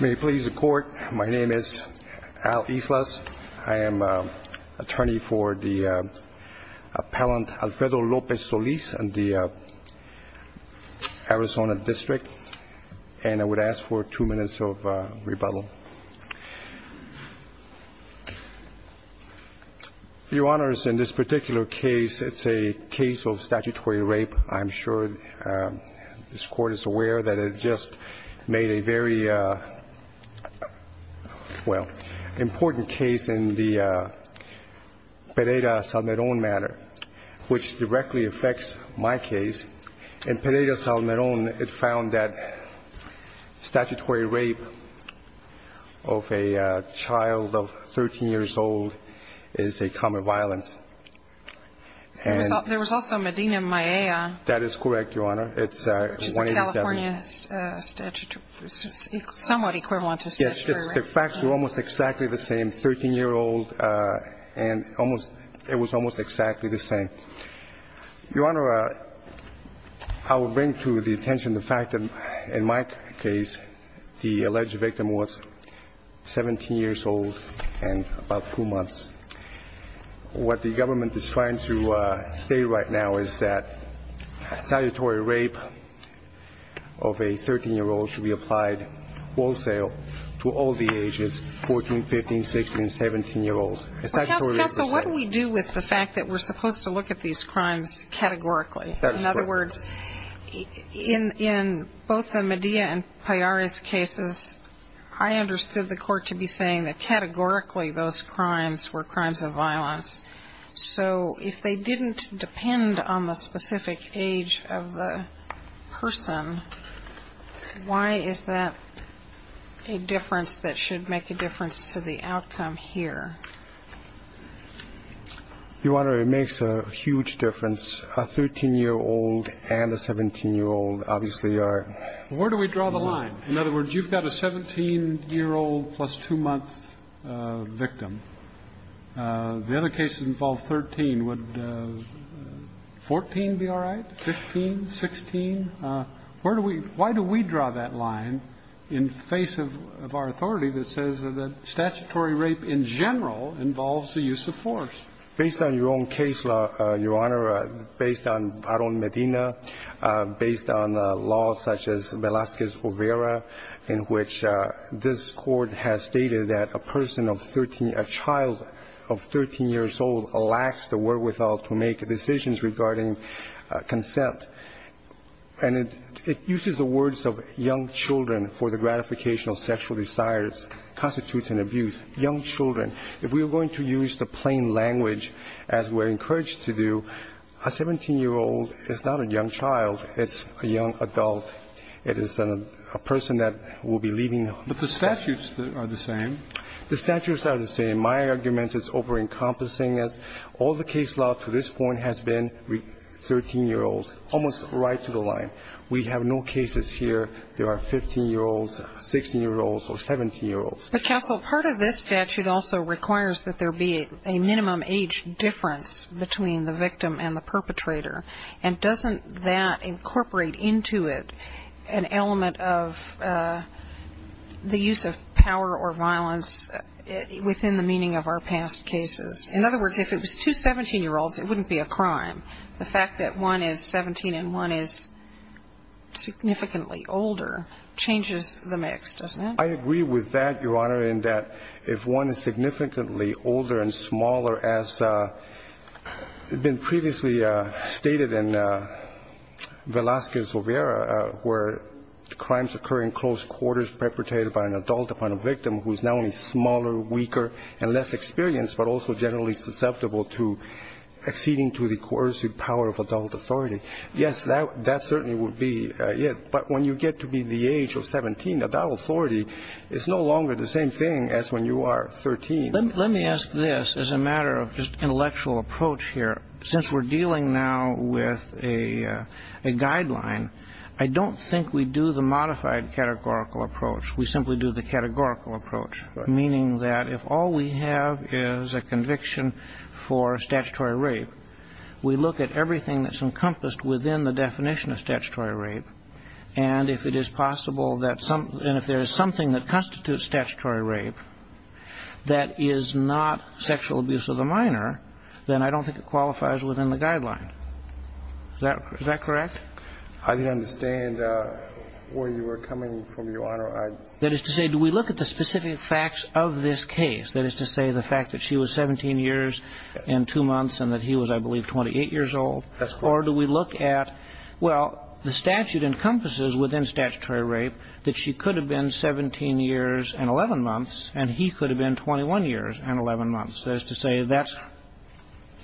May it please the Court, my name is Al Islas. I am attorney for the appellant Alfredo Lopez-Solis in the Arizona District, and I would ask for two minutes of rebuttal. Your Honor, in this particular case, it's a case of statutory rape. I'm sure this Court is aware that it just made a very, well, important case in the Pereira-Salmeron matter, which directly affects my case. In Pereira-Salmeron, it found that statutory rape of a child of 13 years old is a common violence. There was also Medina-Maella. That is correct, Your Honor. Which is a California statute, somewhat equivalent to statutory rape. Yes, the facts were almost exactly the same, 13-year-old, and it was almost exactly the same. Your Honor, I would bring to the attention the fact that in my case, the alleged victim was 17 years old and about 2 months. What the government is trying to say right now is that statutory rape of a 13-year-old should be applied wholesale to all the ages, 14, 15, 16, 17-year-olds. Counsel, what do we do with the fact that we're supposed to look at these crimes categorically? In other words, in both the Medina and Pereira's cases, I understood the Court to be saying that categorically those crimes were crimes of violence. So if they didn't depend on the specific age of the person, why is that a difference that should make a difference to the outcome here? Your Honor, it makes a huge difference. A 13-year-old and a 17-year-old obviously are. Where do we draw the line? In other words, you've got a 17-year-old plus 2-month victim. The other cases involve 13. Would 14 be all right, 15, 16? Where do we – why do we draw that line in face of our authority that says that statutory rape in general involves the use of force? Based on your own case, Your Honor, based on our own Medina, based on laws such as Velazquez-O'Vera, in which this Court has stated that a person of 13 – a child of 13 years old lacks the wherewithal to make decisions regarding consent. And it uses the words of young children for the gratification of sexual desires, constitutes an abuse. Young children. If we're going to use the plain language, as we're encouraged to do, a 17-year-old is not a young child. It's a young adult. It is a person that will be leaving home. But the statutes are the same. The statutes are the same. My argument is over-encompassing. All the case law to this point has been 13-year-olds, almost right to the line. We have no cases here. There are 15-year-olds, 16-year-olds or 17-year-olds. But, Counsel, part of this statute also requires that there be a minimum age difference between the victim and the perpetrator. And doesn't that incorporate into it an element of the use of power or violence within the meaning of our past cases? In other words, if it was two 17-year-olds, it wouldn't be a crime. The fact that one is 17 and one is significantly older changes the mix, doesn't it? I agree with that, Your Honor, in that if one is significantly older and smaller, as had been previously stated in Velazquez-O'Vera, where crimes occur in close quarters perpetrated by an adult upon a victim who is not only smaller, weaker and less experienced but also generally susceptible to acceding to the coercive power of adult authority, yes, that certainly would be it. But when you get to be the age of 17, adult authority is no longer the same thing as when you are 13. Let me ask this as a matter of just intellectual approach here. Since we're dealing now with a guideline, I don't think we do the modified categorical approach. We simply do the categorical approach, meaning that if all we have is a conviction for statutory rape, we look at everything that's encompassed within the definition of statutory rape, and if it is possible that some ñ and if there is something that constitutes statutory rape that is not sexual abuse of the minor, then I don't think it qualifies within the guideline. Is that correct? I didn't understand where you were coming from, Your Honor. That is to say, do we look at the specific facts of this case? That is to say, the fact that she was 17 years and two months and that he was, I believe, 28 years old? That's correct. Or do we look at, well, the statute encompasses within statutory rape that she could have been 17 years and 11 months and he could have been 21 years and 11 months. That is to say, that's ñ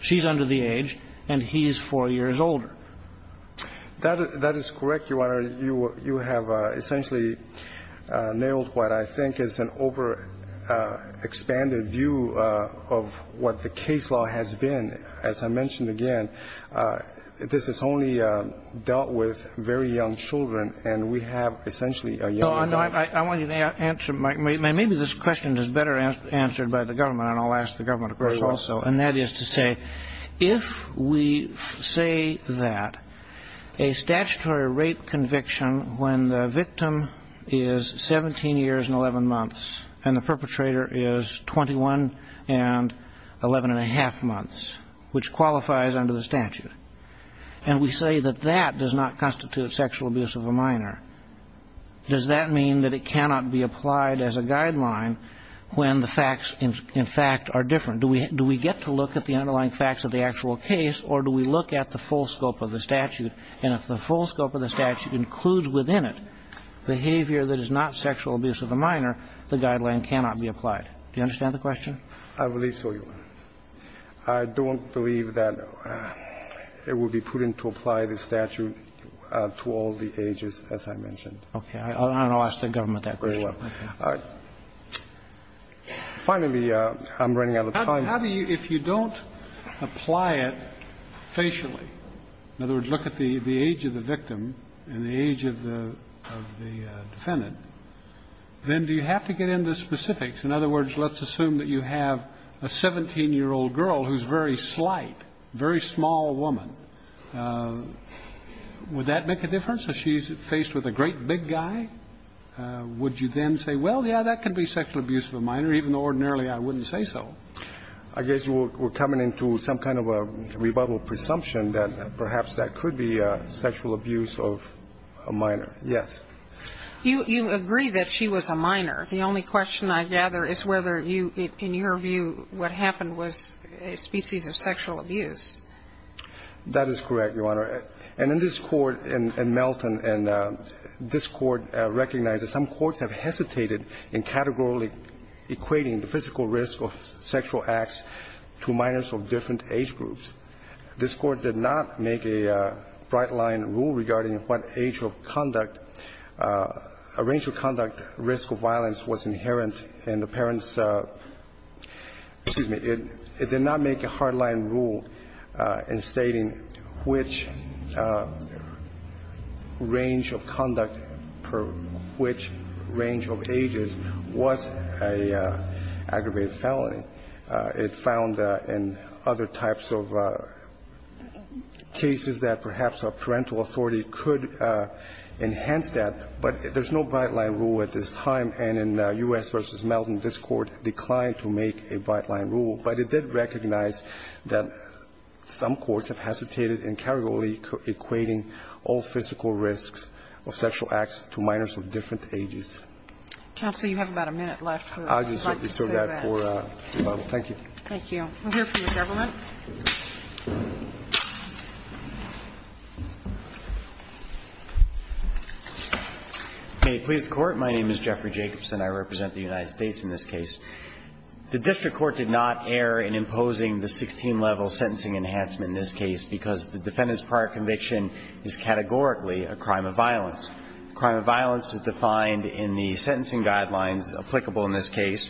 she's under the age and he's 4 years older. That is correct, Your Honor. Your Honor, you have essentially nailed what I think is an overexpanded view of what the case law has been. As I mentioned again, this is only dealt with very young children, and we have essentially a young adult. I want you to answer, Mike. Maybe this question is better answered by the government, and I'll ask the government, of course, also. And that is to say, if we say that a statutory rape conviction when the victim is 17 years and 11 months and the perpetrator is 21 and 11 and a half months, which qualifies under the statute, and we say that that does not constitute sexual abuse of a minor, does that mean that it cannot be applied as a guideline when the facts, in fact, are different? Do we get to look at the underlying facts of the actual case or do we look at the full scope of the statute? And if the full scope of the statute includes within it behavior that is not sexual abuse of a minor, the guideline cannot be applied. Do you understand the question? I believe so, Your Honor. I don't believe that it would be prudent to apply the statute to all the ages, as I mentioned. And I'll ask the government that question. Very well. All right. Finally, I'm running out of time. How do you, if you don't apply it facially, in other words, look at the age of the victim and the age of the defendant, then do you have to get into specifics? In other words, let's assume that you have a 17-year-old girl who's very slight, very small woman. Would that make a difference? If she's faced with a great big guy, would you then say, well, yeah, that could be sexual abuse of a minor, even though ordinarily I wouldn't say so? I guess we're coming into some kind of a rebuttal presumption that perhaps that could be sexual abuse of a minor. Yes. You agree that she was a minor. The only question I gather is whether you, in your view, what happened was a species of sexual abuse. That is correct, Your Honor. And in this Court in Melton, and this Court recognizes some courts have hesitated in categorically equating the physical risk of sexual acts to minors of different age groups. This Court did not make a bright-line rule regarding what age of conduct, a range of conduct risk of violence was inherent in the parents' -- excuse me, it did not make a bright-line rule in stating which range of conduct per which range of ages was an aggravated felony. It found in other types of cases that perhaps a parental authority could enhance that, but there's no bright-line rule at this time. And in U.S. v. Melton, this Court declined to make a bright-line rule. But it did recognize that some courts have hesitated in categorically equating all physical risks of sexual acts to minors of different ages. Counsel, you have about a minute left. I'd just like to say that. Thank you. Thank you. We'll hear from the government. May it please the Court. My name is Jeffrey Jacobson. I represent the United States in this case. The district court did not err in imposing the 16-level sentencing enhancement in this case because the defendant's prior conviction is categorically a crime of violence. Crime of violence is defined in the sentencing guidelines applicable in this case.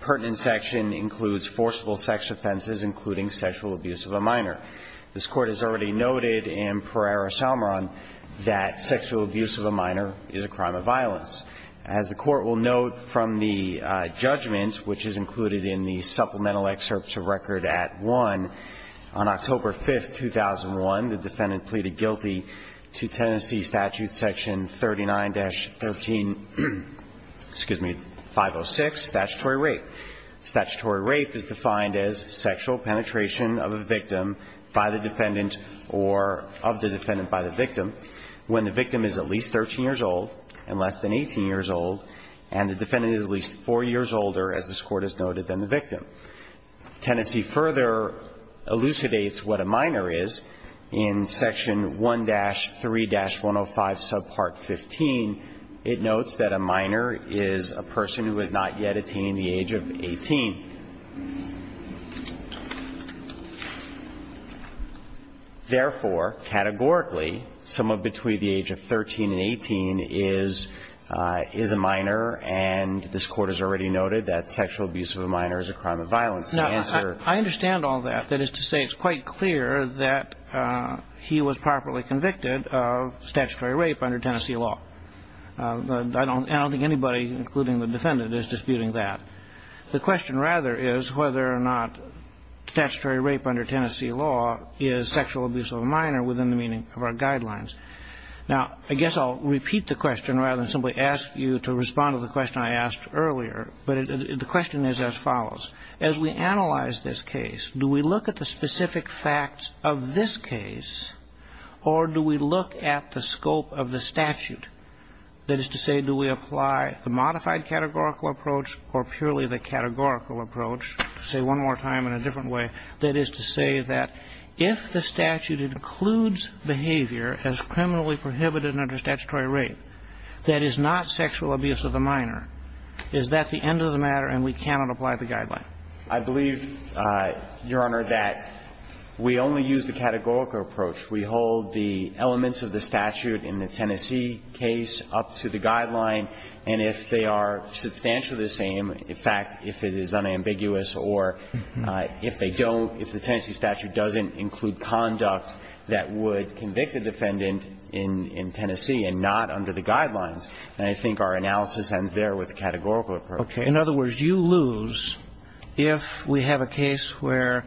Pertinent section includes forcible sex offenses, including sexual abuse of a minor. This Court has already noted in Pereira-Salmon that sexual abuse of a minor is a crime of violence. As the Court will note from the judgment, which is included in the supplemental excerpts of record at 1, on October 5, 2001, the defendant pleaded guilty to Tennessee statute section 39-13, excuse me, 506, statutory rape. Statutory rape is defined as sexual penetration of a victim by the defendant or of the defendant by the victim. When the victim is at least 13 years old and less than 18 years old and the defendant is at least 4 years older, as this Court has noted, than the victim. Tennessee further elucidates what a minor is in section 1-3-105, subpart 15. It notes that a minor is a person who has not yet attained the age of 18. Therefore, categorically, someone between the age of 13 and 18 is a minor, and this Court has already noted that sexual abuse of a minor is a crime of violence. And the answer to that is to say it's quite clear that he was properly convicted of statutory rape under Tennessee law. I don't think anybody, including the defendant, is disputing that. The question, rather, is whether or not statutory rape under Tennessee law is sexual abuse of a minor within the meaning of our guidelines. Now, I guess I'll repeat the question rather than simply ask you to respond to the question I asked earlier, but the question is as follows. As we analyze this case, do we look at the specific facts of this case or do we look at the scope of the statute, that is to say, do we apply the modified categorical approach or purely the categorical approach, to say one more time in a different way, that is to say that if the statute includes behavior as criminally prohibited under statutory rape that is not sexual abuse of a minor, is that the end of the matter and we cannot apply the guideline? I believe, Your Honor, that we only use the categorical approach. We hold the elements of the statute in the Tennessee case up to the guideline, and if they are substantially the same, in fact, if it is unambiguous or if they don't, if the Tennessee statute doesn't include conduct that would convict a defendant in Tennessee and not under the guidelines, then I think our analysis ends there with the categorical approach. Okay. In other words, you lose if we have a case where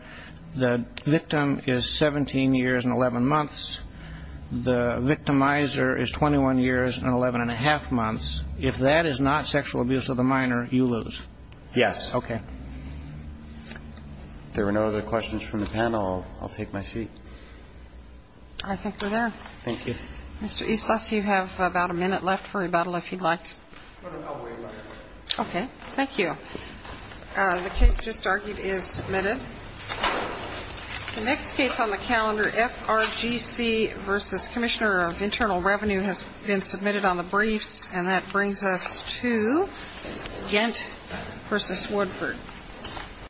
the victim is 17 years and 11 months, the victimizer is 21 years and 11 1⁄2 months. If that is not sexual abuse of the minor, you lose. Yes. Okay. If there are no other questions from the panel, I'll take my seat. I think we're there. Thank you. Mr. Eastlis, you have about a minute left for rebuttal, if you'd like. Okay. Thank you. The case just argued is submitted. The next case on the calendar, FRGC v. Commissioner of Internal Revenue, has been submitted on the briefs, and that brings us to Ghent v. Woodford.